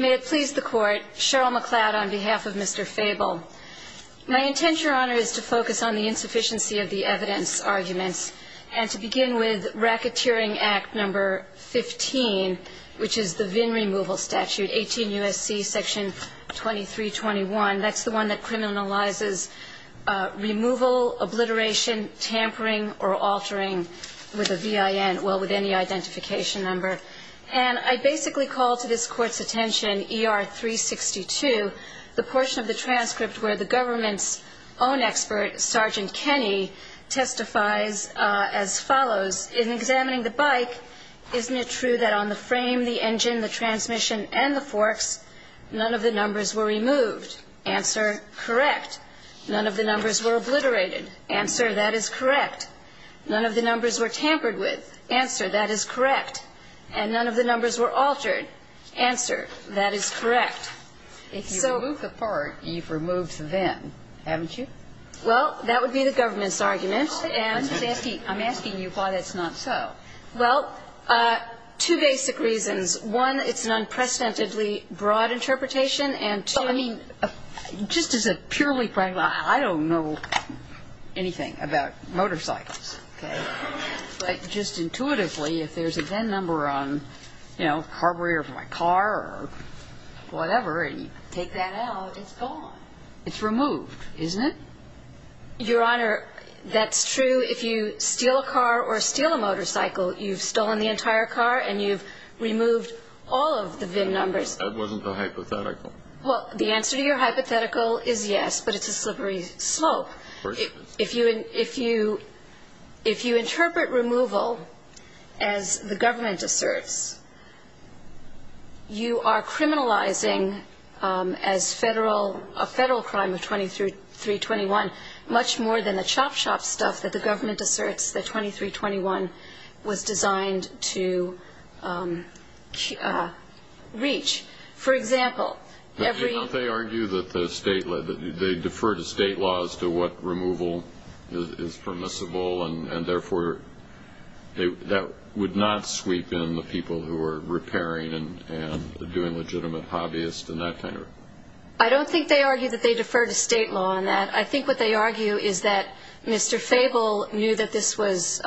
May it please the court, Cheryl McLeod on behalf of Mr. Fabel. My intent, your honor, is to focus on the insufficiency of the evidence arguments and to begin with racketeering act number 15, which is the VIN removal statute, 18 U.S.C. section 2321. That's the one that criminalizes removal, obliteration, tampering, or altering with a VIN, well, with any identification number. And I basically call to this court's attention ER 362, the portion of the transcript where the government's own expert, Sergeant Kenny, testifies as follows. In examining the bike, isn't it true that on the frame, the engine, the transmission, and the forks, none of the numbers were removed? Answer, correct. None of the numbers were obliterated. Answer, that is correct. None of the numbers were tampered with. Answer, that is correct. And none of the numbers were altered. Answer, that is correct. So. If you remove the part, you've removed the VIN, haven't you? Well, that would be the government's argument. I'm asking you why that's not so. Well, two basic reasons. One, it's an unprecedentedly broad interpretation. Well, I mean, just as a purely practical, I don't know anything about motorcycles. Okay. But just intuitively, if there's a VIN number on, you know, a carburetor for my car or whatever, and you take that out, it's gone. It's removed, isn't it? Your Honor, that's true. If you steal a car or steal a motorcycle, you've stolen the entire car and you've removed all of the VIN numbers. That wasn't a hypothetical. Well, the answer to your hypothetical is yes, but it's a slippery slope. If you interpret removal as the government asserts, you are criminalizing as federal, a federal crime of 2321, much more than the chop shop stuff that the government asserts that 2321 was designed to reach. For example, every- Don't they argue that they defer to state laws to what removal is permissible, and therefore that would not sweep in the people who are repairing and doing legitimate hobbyists and that kind of- I don't think they argue that they defer to state law on that. I think what they argue is that Mr. Fable knew that this was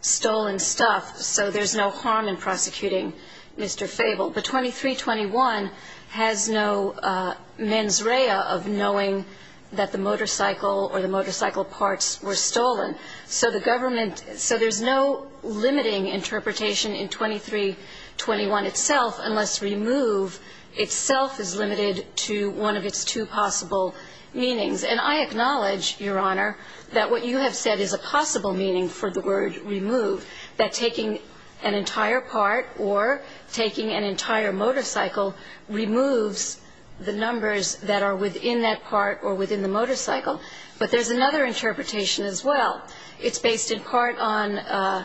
stolen stuff, so there's no harm in prosecuting Mr. Fable. But 2321 has no mens rea of knowing that the motorcycle or the motorcycle parts were stolen. So there's no limiting interpretation in 2321 itself unless remove itself is limited to one of its two possible meanings. And I acknowledge, Your Honor, that what you have said is a possible meaning for the word remove, that taking an entire part or taking an entire motorcycle removes the numbers that are within that part or within the motorcycle. But there's another interpretation as well. It's based in part on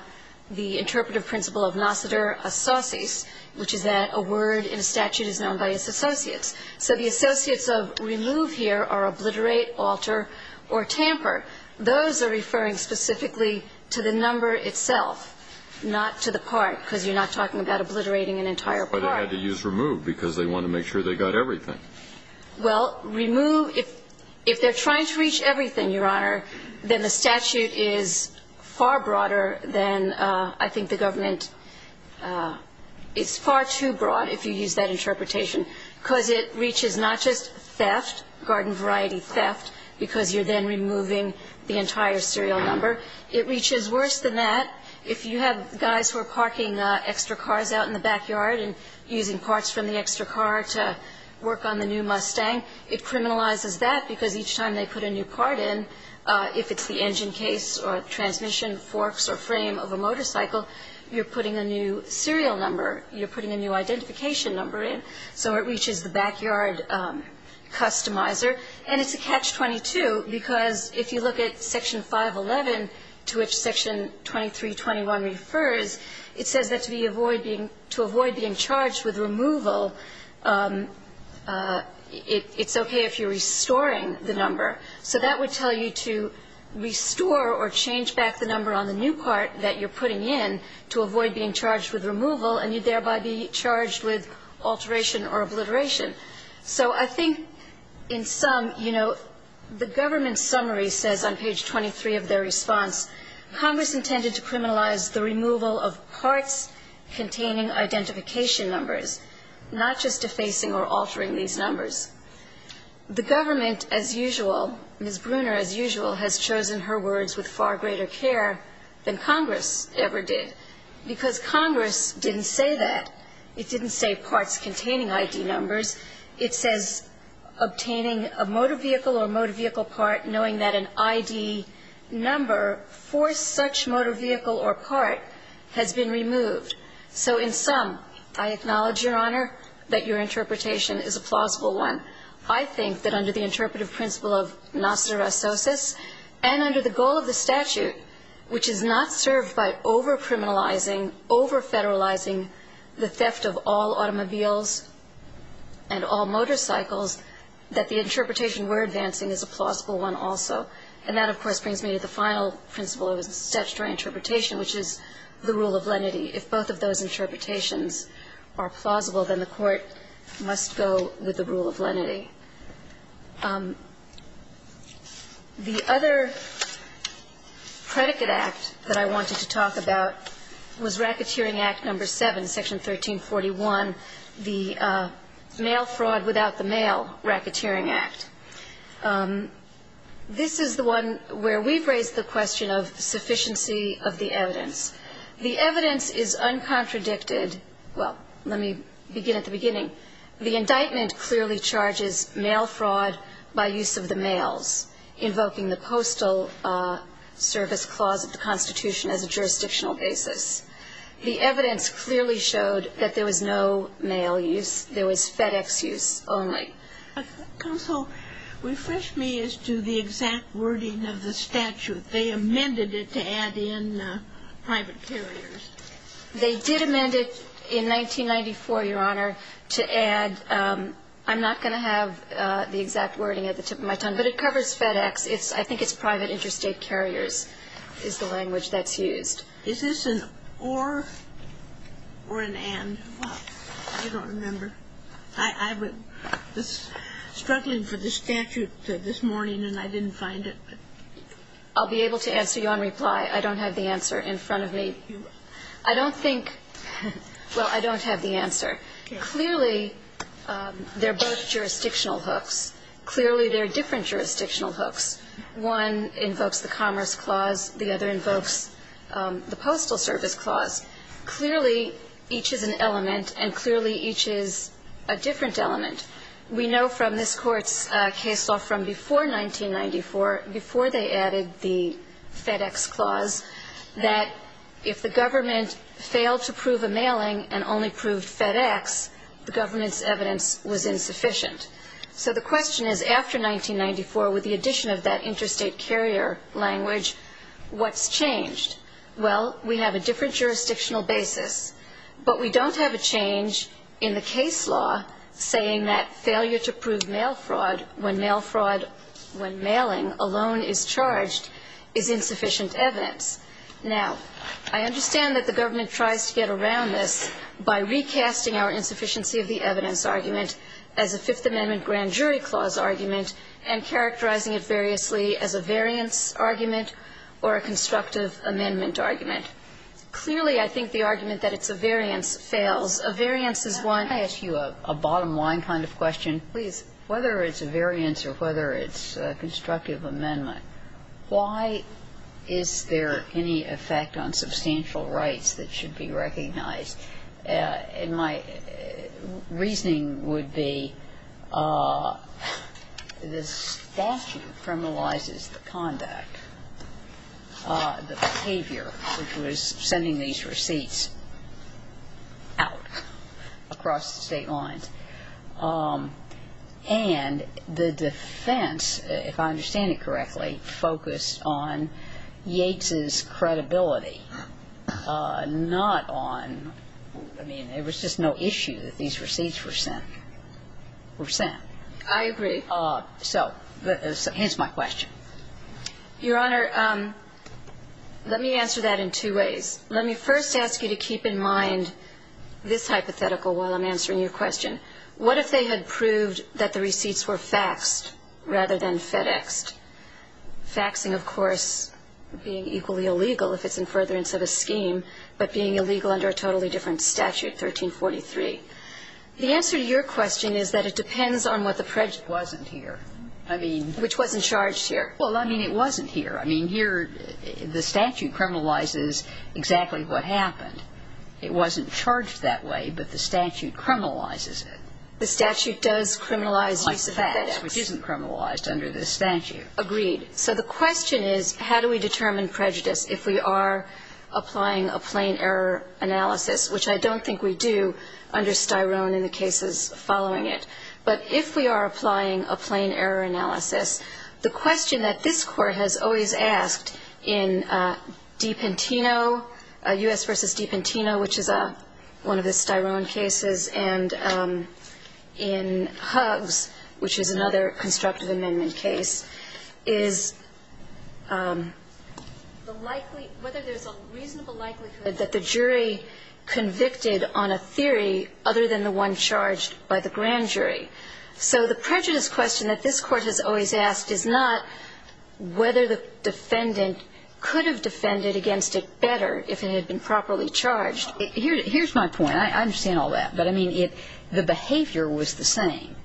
the interpretive principle of nociter associis, which is that a word in a statute is known by its associates. So the associates of remove here are obliterate, alter, or tamper. Those are referring specifically to the number itself, not to the part, because you're not talking about obliterating an entire part. But they had to use remove because they wanted to make sure they got everything. Well, remove, if they're trying to reach everything, Your Honor, then the statute is far broader than I think the government It's far too broad if you use that interpretation, because it reaches not just theft, garden variety theft, because you're then removing the entire serial number. It reaches worse than that if you have guys who are parking extra cars out in the backyard and using parts from the extra car to work on the new Mustang. It criminalizes that, because each time they put a new part in, if it's the engine case or transmission forks or frame of a motorcycle, you're putting a new serial number. You're putting a new identification number in. So it reaches the backyard customizer. And it's a catch-22, because if you look at Section 511, to which Section 2321 refers, it says that to avoid being charged with removal, it's okay if you're restoring the number. So that would tell you to restore or change back the number on the new part that you're putting in to avoid being charged with removal, and you'd thereby be charged with alteration or obliteration. So I think in sum, you know, the government summary says on page 23 of their response, Congress intended to criminalize the removal of parts containing identification numbers, not just defacing or altering these numbers. The government, as usual, Ms. Bruner, as usual, has chosen her words with far greater care than Congress ever did, because Congress didn't say that. It didn't say parts containing ID numbers. It says obtaining a motor vehicle or motor vehicle part, knowing that an ID number for such motor vehicle or part has been removed. So in sum, I acknowledge, Your Honor, that your interpretation is a plausible one. I think that under the interpretive principle of nosterososis and under the goal of the statute, which is not served by over-criminalizing, over-federalizing the theft of all automobiles and all motorcycles, that the interpretation we're advancing is a plausible one also. And that, of course, brings me to the final principle of statutory interpretation, which is the rule of lenity. If both of those interpretations are plausible, then the Court must go with the rule of lenity. The other predicate act that I wanted to talk about was Racketeering Act No. 7, Section 1341, the mail fraud without the mail racketeering act. This is the one where we've raised the question of sufficiency of the evidence. The evidence is uncontradicted. Well, let me begin at the beginning. The indictment clearly charges mail fraud by use of the mails, invoking the Postal Service Clause of the Constitution as a jurisdictional basis. The evidence clearly showed that there was no mail use. There was FedEx use only. Counsel, refresh me as to the exact wording of the statute. They amended it to add in private carriers. They did amend it in 1994, Your Honor, to add. I'm not going to have the exact wording at the tip of my tongue, but it covers FedEx. I think it's private interstate carriers is the language that's used. Is this an or or an and? I don't remember. I was struggling for the statute this morning, and I didn't find it. I'll be able to answer you on reply. I don't have the answer in front of me. I don't think, well, I don't have the answer. Clearly, they're both jurisdictional hooks. Clearly, they're different jurisdictional hooks. One invokes the Commerce Clause. The other invokes the Postal Service Clause. Clearly, each is an element, and clearly, each is a different element. We know from this Court's case law from before 1994, before they added the FedEx clause, that if the government failed to prove a mailing and only proved FedEx, the government's evidence was insufficient. So the question is, after 1994, with the addition of that interstate carrier language, what's changed? Well, we have a different jurisdictional basis, but we don't have a change in the case law saying that failure to prove mail fraud when mail fraud when mailing alone is charged is insufficient evidence. Now, I understand that the government tries to get around this by recasting our insufficiency of the evidence argument as a Fifth Amendment grand jury clause argument and characterizing it variously as a variance argument or a constructive amendment argument. Clearly, I think the argument that it's a variance fails. A variance is one of the two. The question is, if it's a variance or whether it's a constructive amendment, why is there any effect on substantial rights that should be recognized? And my reasoning would be the statute criminalizes the conduct, the behavior, which was sending these receipts out across the state lines. And the defense, if I understand it correctly, focused on Yates's credibility, not on ñ I mean, there was just no issue that these receipts were sent. I agree. So here's my question. Your Honor, let me answer that in two ways. Let me first ask you to keep in mind this hypothetical while I'm answering your question. What if they had proved that the receipts were faxed rather than FedExed, faxing, of course, being equally illegal if it's in furtherance of a scheme, but being illegal under a totally different statute, 1343? The answer to your question is that it depends on what the prejudice was. It wasn't here. I mean ñ Which wasn't charged here. Well, I mean, it wasn't here. I mean, here the statute criminalizes exactly what happened. It wasn't charged that way, but the statute criminalizes it. The statute does criminalize use of FedEx. Which isn't criminalized under this statute. Agreed. So the question is how do we determine prejudice if we are applying a plain error analysis, which I don't think we do under Styrone in the cases following it. But if we are applying a plain error analysis, the question that this Court has always asked in Dipentino, U.S. v. Dipentino, which is one of the Styrone cases, and in Huggs, which is another constructive amendment case, is the likely ñ whether there's a reasonable likelihood that the jury convicted on a theory other than the one charged by the grand jury. So the prejudice question that this Court has always asked is not whether the defendant could have defended against it better if it had been properly charged. Here's my point. I understand all that. But, I mean, the behavior was the same.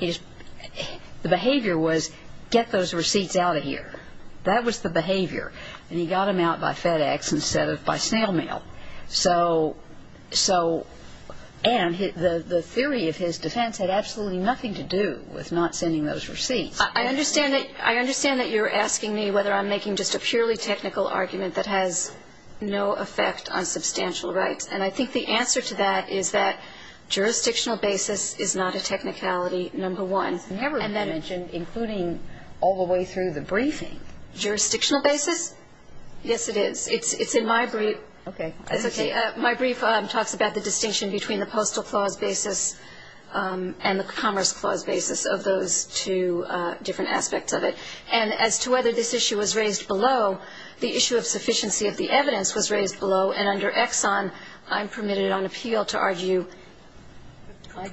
The behavior was get those receipts out of here. That was the behavior. And he got them out by FedEx instead of by snail mail. So, and the theory of his defense had absolutely nothing to do with not sending those receipts. I understand that you're asking me whether I'm making just a purely technical argument that has no effect on substantial rights. And I think the answer to that is that jurisdictional basis is not a technicality, number one. It's never been mentioned, including all the way through the briefing. Jurisdictional basis? Yes, it is. It's in my brief. Okay. It's okay. My brief talks about the distinction between the Postal Clause basis and the Commerce Clause basis. And I think there's a lot of different aspects of it. And as to whether this issue was raised below, the issue of sufficiency of the evidence was raised below. And under Exxon, I'm permitted on appeal to argue,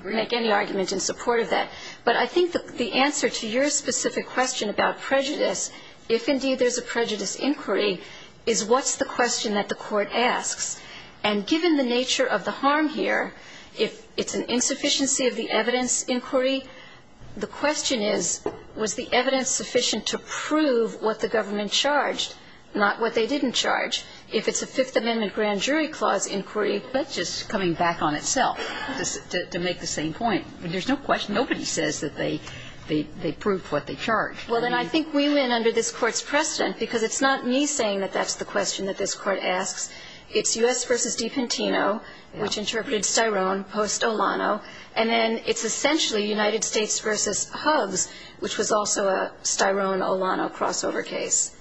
make any argument in support of that. But I think the answer to your specific question about prejudice, if indeed there's a prejudice inquiry, is what's the question that the Court asks. And given the nature of the harm here, if it's an insufficiency of the evidence inquiry, the question is, was the evidence sufficient to prove what the government charged, not what they didn't charge. If it's a Fifth Amendment grand jury clause inquiry, that's just coming back on itself to make the same point. There's no question. Nobody says that they proved what they charged. Well, then I think we went under this Court's precedent, because it's not me saying that that's the question that this Court asks. It's U.S. v. Dipentino, which interpreted Styrone post Olano. And then it's essentially United States v. Hubs, which was also a Styrone-Olano crossover case.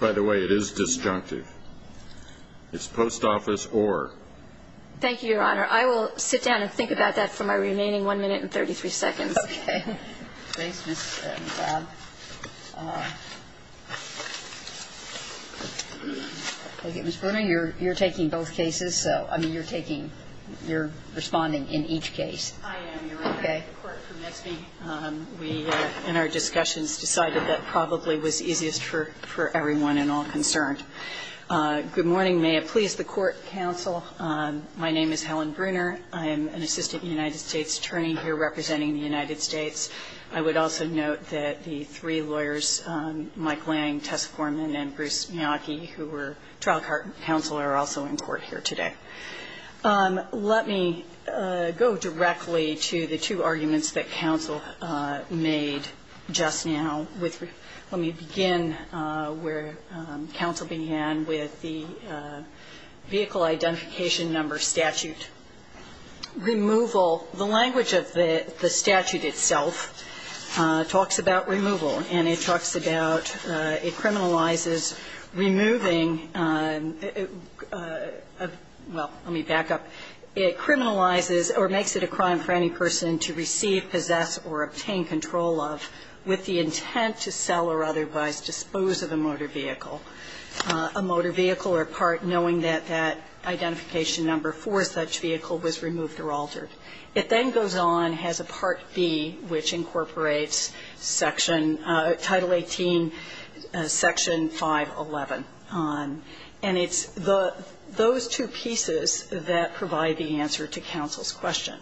By the way, it is disjunctive. It's post office or. Thank you, Your Honor. I will sit down and think about that for my remaining 1 minute and 33 seconds. Okay. Ms. Bruner, you're taking both cases, so, I mean, you're taking, you're responding in each case. I am, Your Honor. Okay. The court permits me. We, in our discussions, decided that probably was easiest for everyone and all concerned. Good morning. May it please the Court, counsel. My name is Helen Bruner. I am an assistant United States attorney here representing the United States. I would also note that the three lawyers, Mike Lang, Tessa Foreman, and Bruce Miyake, who were trial counsel, are also in court here today. Let me go directly to the two arguments that counsel made just now. Let me begin where counsel began with the vehicle identification number statute. Removal. The language of the statute itself talks about removal, and it talks about it criminalizes removing, well, let me back up. It criminalizes or makes it a crime for any person to receive, possess, or obtain control of with the intent to sell or otherwise dispose of a motor vehicle, a motor vehicle or part knowing that that identification number for such vehicle was removed or altered. It then goes on, has a Part B, which incorporates section, Title 18, Section 511. And it's those two pieces that provide the answer to counsel's question.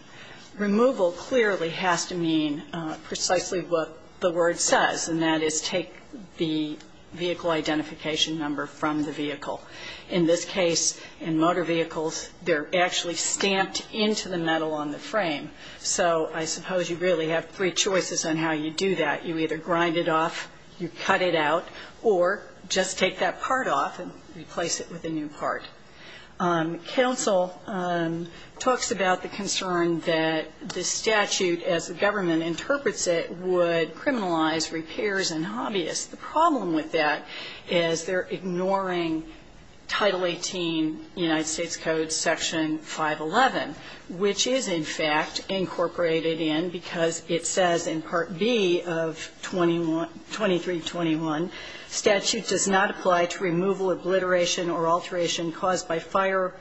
Removal clearly has to mean precisely what the word says, and that is take the vehicle identification number from the vehicle. In this case, in motor vehicles, they're actually stamped into the metal on the frame. So I suppose you really have three choices on how you do that. You either grind it off, you cut it out, or just take that part off and replace it with a new part. Counsel talks about the concern that the statute, as the government interprets it, would criminalize repairs and hobbyists. The problem with that is they're ignoring Title 18, United States Code, Section 511, which is, in fact, incorporated in because it says in Part B of 2321, statute does not apply to removal, obliteration, or alteration caused by fire,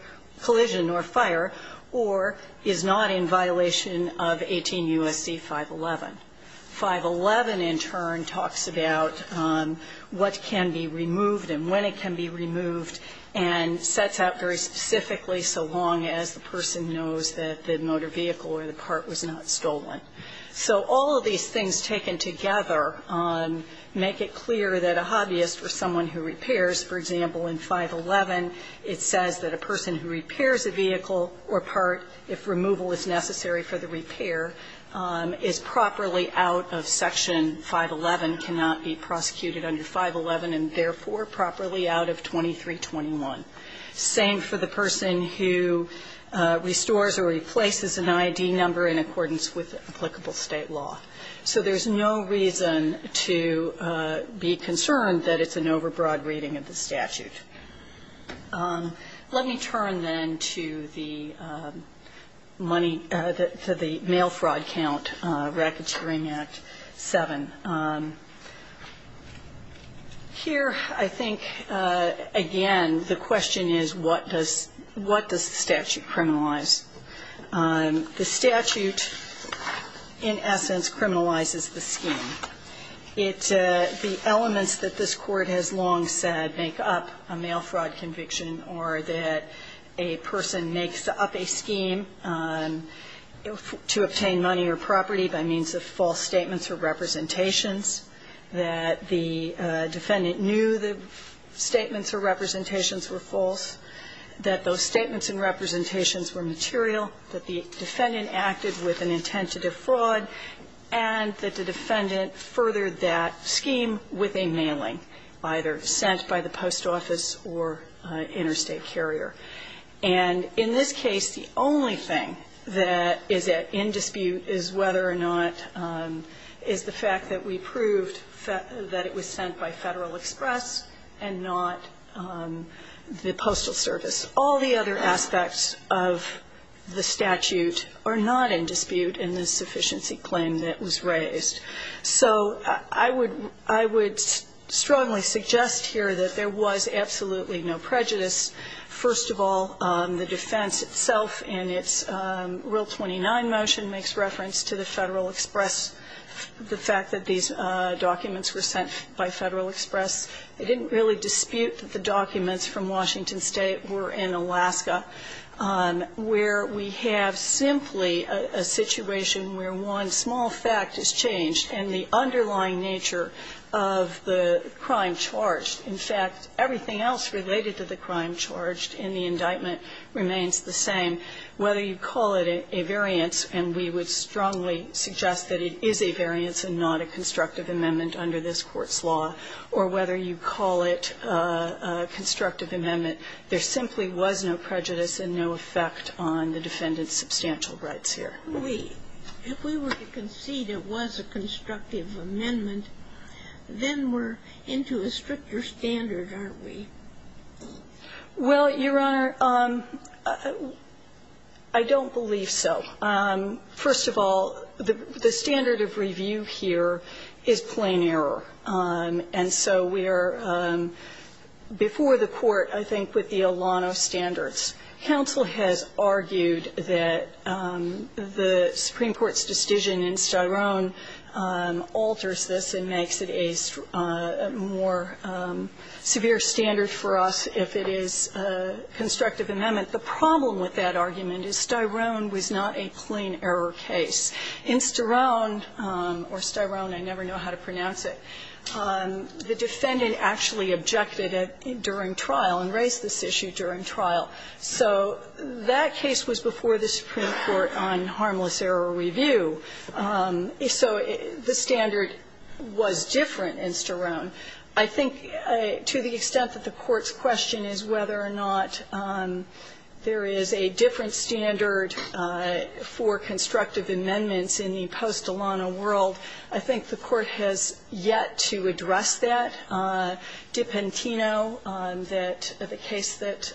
collision or fire, or is not in violation of 18 U.S.C. 511. 511, in turn, talks about what can be removed and when it can be removed, and sets out very specifically so long as the person knows that the motor vehicle or the part was not stolen. So all of these things taken together make it clear that a hobbyist or someone who repairs, for example, in 511, it says that a person who repairs a vehicle or part, if removal is necessary for the repair, is properly out of Section 511, cannot be prosecuted under 511, and therefore properly out of 2321. Same for the person who restores or replaces an ID number in accordance with applicable State law. So there's no reason to be concerned that it's an overbroad reading of the statute. Let me turn, then, to the money to the mail fraud count, Racketeering Act 7. Here, I think, again, the question is, what does the statute criminalize? The statute, in essence, criminalizes the scheme. It the elements that this Court has long said make up a mail fraud conviction or that a person makes up a scheme to obtain money or property by means of false statements or representations, that the defendant knew the statements or representations were false, that those statements and representations were material, that the defendant acted with an intent to defraud, and that the defendant furthered that scheme with a mailing, either sent by the post office or interstate carrier. And in this case, the only thing that is in dispute is whether or not the fact that we proved that it was sent by Federal Express and not the Postal Service. All the other aspects of the statute are not in dispute in the sufficiency claim that was raised. So I would strongly suggest here that there was absolutely no prejudice. First of all, the defense itself in its Rule 29 motion makes reference to the Federal Express, the fact that these documents were sent by Federal Express. It didn't really dispute that the documents from Washington State were in Alaska, where we have simply a situation where one small fact is changed and the underlying nature of the crime charged. In fact, everything else related to the crime charged in the indictment remains the same, whether you call it a variance, and we would strongly suggest that it is a variance and not a constructive amendment under this Court's law, or whether you call it a constructive amendment, there simply was no prejudice and no effect on the defendant's substantial rights here. If we were to concede it was a constructive amendment, then we're into a stricter standard, aren't we? Well, Your Honor, I don't believe so. First of all, the standard of review here is plain error. And so we are before the Court, I think, with the Alano standards. Counsel has argued that the Supreme Court's decision in Styrone alters this and makes it a more severe standard for us if it is a constructive amendment. The problem with that argument is Styrone was not a plain error case. In Styrone, or Styrone, I never know how to pronounce it, the defendant actually objected during trial and raised this issue during trial. So that case was before the Supreme Court on harmless error review. So the standard was different in Styrone. I think to the extent that the Court's question is whether or not there is a different standard for constructive amendments in the post-Alano world, I think the Court has yet to address that. Dipentino, the case that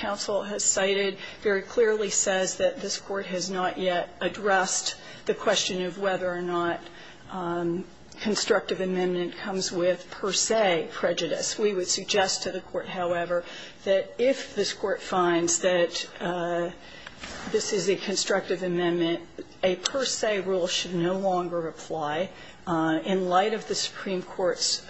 counsel has cited, very clearly says that this Court has not yet addressed the question of whether or not constructive amendment comes with per se prejudice. We would suggest to the Court, however, that if this Court finds that this is a constructive amendment, a per se rule should no longer apply in light of the Supreme Court's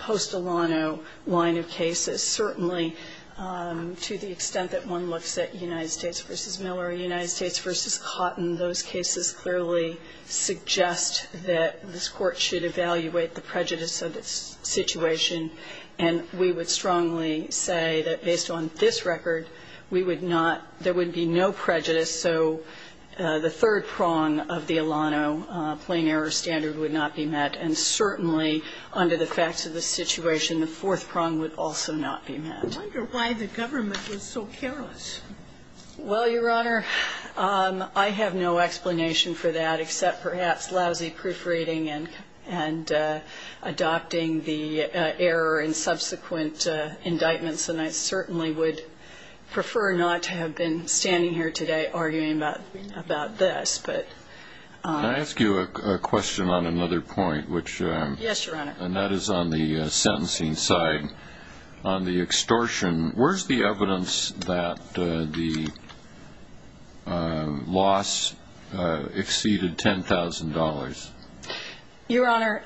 post-Alano line of cases. Certainly, to the extent that one looks at United States v. Miller or United States v. Cotton, those cases clearly suggest that this Court should evaluate the prejudice of its situation, and we would strongly say that based on this record, we would not, there would be no prejudice. So the third prong of the Alano plain error standard would not be met, and certainly, under the facts of the situation, the fourth prong would also not be met. Sotomayor, I wonder why the government was so careless. Well, Your Honor, I have no explanation for that except perhaps lousy proofreading and adopting the error in subsequent indictments, and I certainly would prefer not to have been standing here today arguing about this. Can I ask you a question on another point? Yes, Your Honor. And that is on the sentencing side. On the extortion, where is the evidence that the loss exceeded $10,000? Your Honor,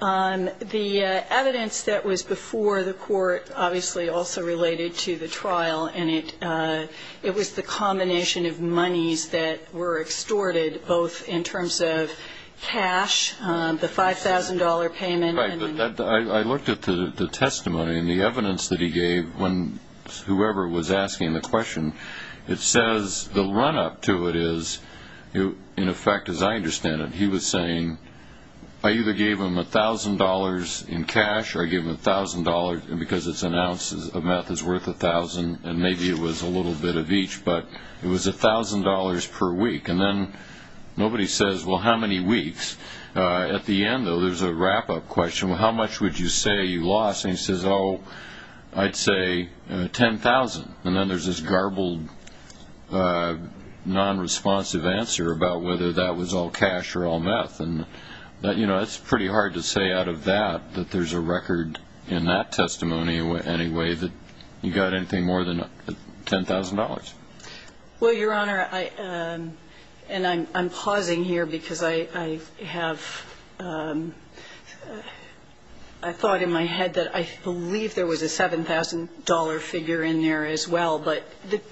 the evidence that was before the Court obviously also related to the trial, and it was the combination of monies that were extorted, both in terms of cash, the $5,000 payment and the money. Right. But I looked at the testimony and the evidence that he gave when whoever was asking the question. It says, the run-up to it is, in effect as I understand it, he was saying, I either gave him $1,000 in cash or I gave him $1,000 because it's an ounce of meth that's worth $1,000, and maybe it was a little bit of each, but it was $1,000 per week. And then nobody says, well, how many weeks? At the end, though, there's a wrap-up question. Well, how much would you say you lost? And he says, oh, I'd say $10,000. And then there's this garbled, non-responsive answer about whether that was all cash or all meth. And, you know, it's pretty hard to say out of that that there's a record in that testimony anyway that you got anything more than $10,000. Well, Your Honor, and I'm pausing here because I have thought in my head that I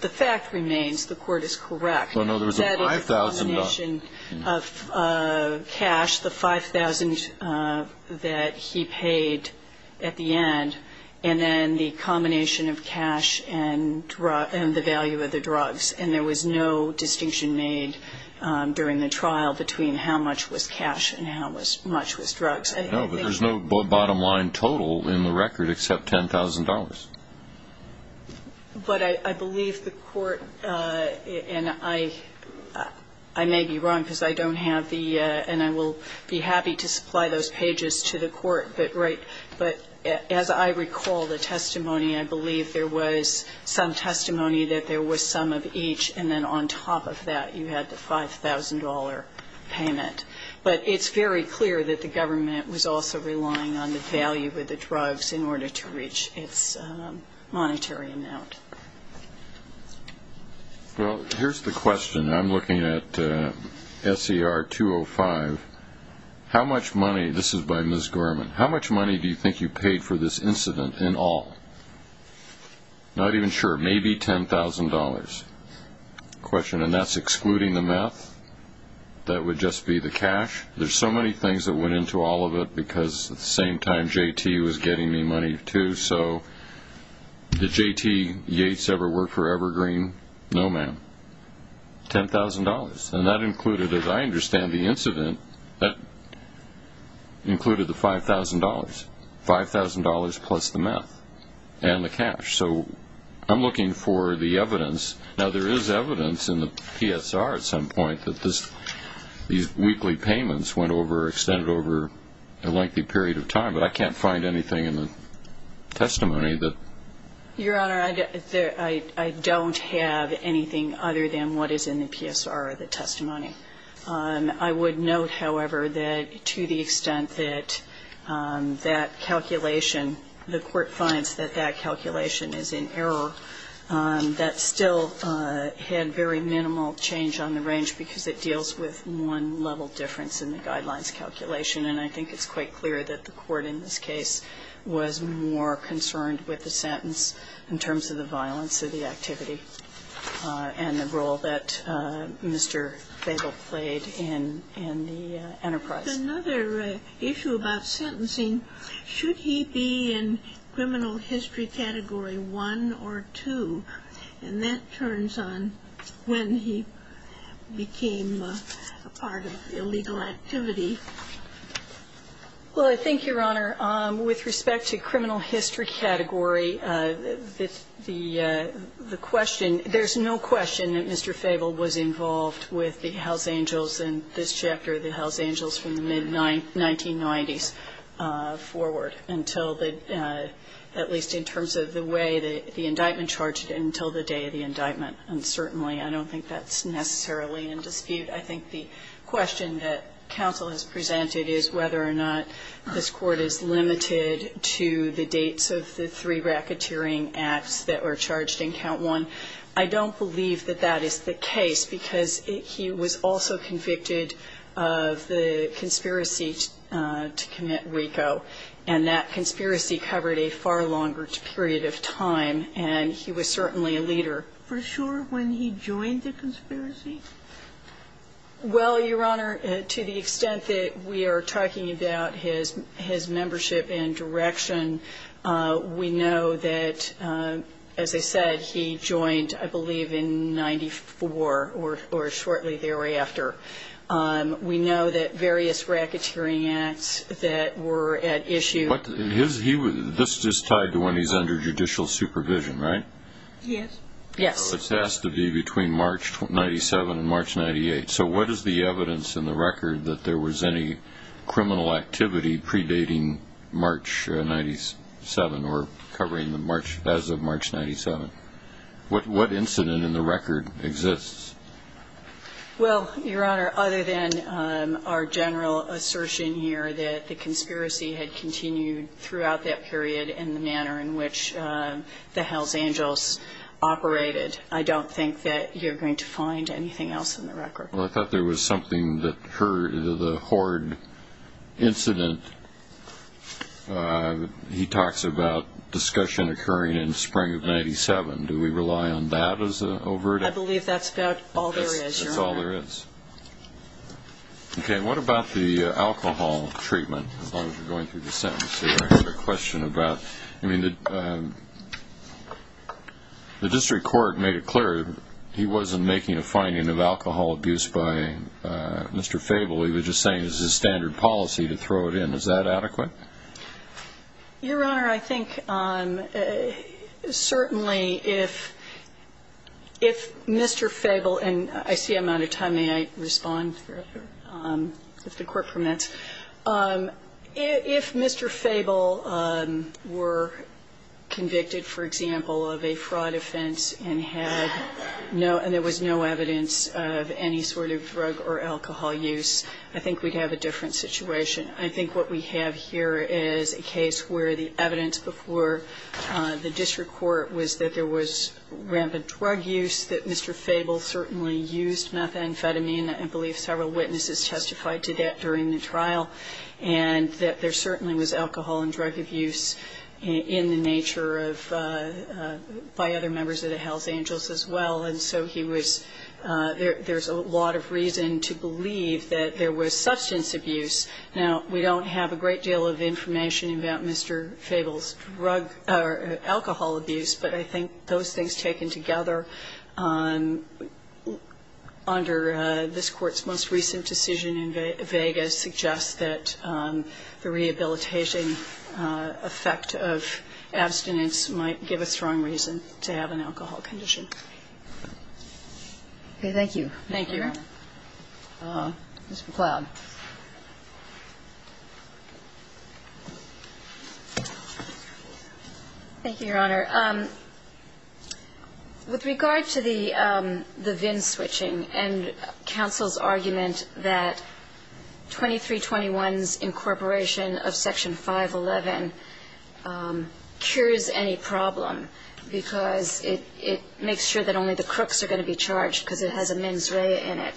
the fact remains the court is correct. Well, no, there was a $5,000. That is a combination of cash, the $5,000 that he paid at the end, and then the combination of cash and the value of the drugs. And there was no distinction made during the trial between how much was cash and how much was drugs. No, but there's no bottom-line total in the record except $10,000. But I believe the court, and I may be wrong because I don't have the, and I will be happy to supply those pages to the court, but as I recall the testimony, I believe there was some testimony that there was some of each, and then on top of that you had the $5,000 payment. But it's very clear that the government was also relying on the value of the drugs in order to reach its monetary amount. Well, here's the question. I'm looking at SER 205. How much money, this is by Ms. Gorman, how much money do you think you paid for this incident in all? Not even sure, maybe $10,000. Question, and that's excluding the meth? That would just be the cash? There's so many things that went into all of it because at the same time JT was getting me money too. So did JT Yates ever work for Evergreen? No, ma'am. $10,000, and that included, as I understand the incident, that included the $5,000. $5,000 plus the meth and the cash. So I'm looking for the evidence. Now, there is evidence in the PSR at some point that these weekly payments went over, extended over a lengthy period of time, but I can't find anything in the testimony that ---- Your Honor, I don't have anything other than what is in the PSR or the testimony. I would note, however, that to the extent that that calculation, the Court finds that that calculation is in error, that still had very minimal change on the range because it deals with one level difference in the guidelines calculation, and I think it's quite clear that the Court in this case was more concerned with the sentence in terms of the violence of the activity and the role that Mr. Fable played in the enterprise. With another issue about sentencing, should he be in criminal history category 1 or 2? And that turns on when he became a part of illegal activity. Well, I think, Your Honor, with respect to criminal history category, the question that Mr. Fable was involved with the House Angels in this chapter, the House Angels from the mid-1990s forward until the ---- at least in terms of the way the indictment charged until the day of the indictment. And certainly I don't think that's necessarily in dispute. I think the question that counsel has presented is whether or not this Court is limited to the dates of the three racketeering acts that were charged in count 1. I don't believe that that is the case because he was also convicted of the conspiracy to commit RICO, and that conspiracy covered a far longer period of time, and he was certainly a leader. For sure when he joined the conspiracy? Well, Your Honor, to the extent that we are talking about his membership and direction, we know that, as I said, he joined, I believe, in 94 or shortly thereafter. We know that various racketeering acts that were at issue ---- But this is tied to when he's under judicial supervision, right? Yes. Yes. So it has to be between March 97 and March 98. So what is the evidence in the record that there was any criminal activity predating March 97 or covering the March ---- as of March 97? What incident in the record exists? Well, Your Honor, other than our general assertion here that the conspiracy had continued throughout that period in the manner in which the Hells Angels operated, I don't think that you're going to find anything else in the record. Well, I thought there was something that the Horde incident ---- he talks about discussion occurring in spring of 97. Do we rely on that as an overt ---- I believe that's about all there is, Your Honor. That's all there is. Okay. What about the alcohol treatment? As long as you're going through the sentences, I have a question about ---- I mean, the district court made it clear he wasn't making a finding of alcohol abuse by Mr. Fable. He was just saying it was his standard policy to throw it in. Is that adequate? Your Honor, I think certainly if Mr. Fable ---- And I see I'm out of time. May I respond if the Court permits? If Mr. Fable were convicted, for example, of a fraud offense and had no ---- and there was no evidence of any sort of drug or alcohol use, I think we'd have a different situation. I think what we have here is a case where the evidence before the district court was that there was rampant drug use, that Mr. Fable certainly used methamphetamine, and I believe several witnesses testified to that during the trial, and that there certainly was alcohol and drug abuse in the nature of ---- by other members of the Hells Angels as well. And so he was ---- there's a lot of reason to believe that there was substance abuse. Now, we don't have a great deal of information about Mr. Fable's drug or alcohol abuse, but I think those things taken together under this Court's most recent decision in Vegas suggests that the rehabilitation effect of abstinence might give a strong reason to have an alcohol condition. Okay. Thank you. Thank you, Your Honor. Ms. McLeod. Thank you, Your Honor. With regard to the VIN switching and counsel's argument that 2321's incorporation of Section 511 cures any problem because it makes sure that only the crooks are going to be charged because it has a mens rea in it.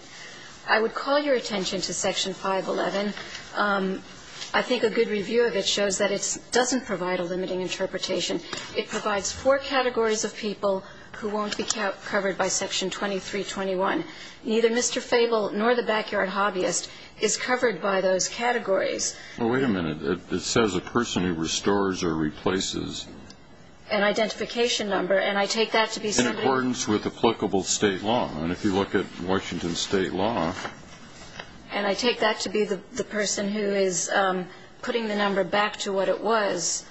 I would call your attention to Section 511. I think a good review of it shows that it doesn't provide a limiting interpretation. It provides four categories of people who won't be covered by Section 2321. Neither Mr. Fable nor the backyard hobbyist is covered by those categories. Well, wait a minute. It says a person who restores or replaces. An identification number, and I take that to be something ---- In accordance with applicable State law. And if you look at Washington State law ---- And I take that to be the person who is putting the number back to what it was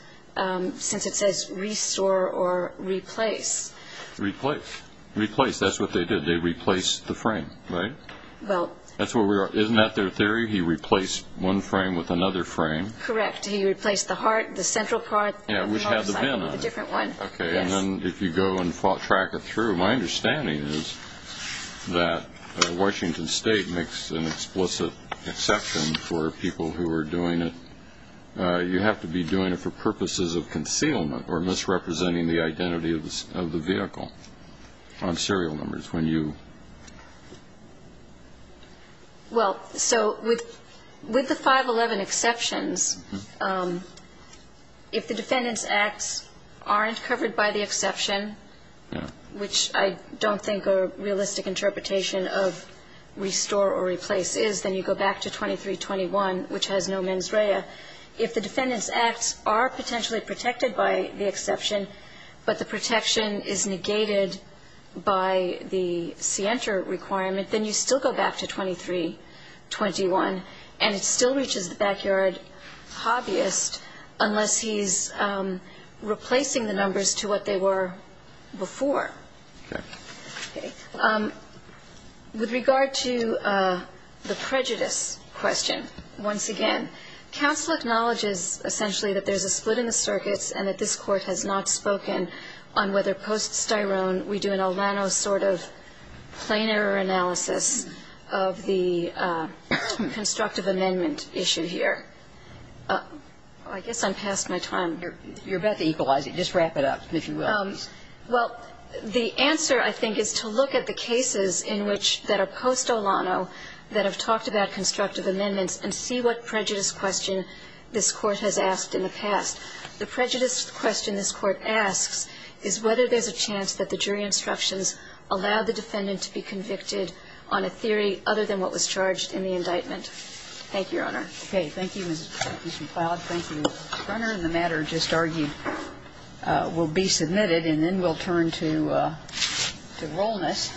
since it says restore or replace. Replace. Replace. That's what they did. They replaced the frame, right? Well ---- That's where we are. Isn't that their theory? He replaced one frame with another frame? Correct. He replaced the heart, the central part ---- Yeah, which had the VIN on it. ---- with a different one. Yes. And then if you go and track it through, my understanding is that Washington State makes an explicit exception for people who are doing it. You have to be doing it for purposes of concealment or misrepresenting the identity of the vehicle on serial numbers when you ---- Well, so with the 511 exceptions, if the Defendant's Acts aren't covered by the exception, which I don't think a realistic interpretation of restore or replace is, then you go back to 2321, which has no mens rea. If the Defendant's Acts are potentially protected by the exception, but the protection is negated by the scienter requirement, then you still go back to 2321, and it still reaches the backyard hobbyist unless he's replacing the numbers to what they were before. Correct. Okay. With regard to the prejudice question, once again, counsel acknowledges essentially that there's a split in the circuits and that this Court has not spoken on whether we do an Olano sort of planar analysis of the constructive amendment issue here. I guess I'm past my time. You're about to equalize it. Just wrap it up, if you will. Well, the answer, I think, is to look at the cases in which that are post-Olano that have talked about constructive amendments and see what prejudice question this Court has asked in the past. The prejudice question this Court asks is whether there's a chance that the jury instructions allow the Defendant to be convicted on a theory other than what was charged in the indictment. Thank you, Your Honor. Okay. Thank you, Ms. McLeod. Thank you, Mr. Brunner. And the matter just argued will be submitted, and then we'll turn to Rolness.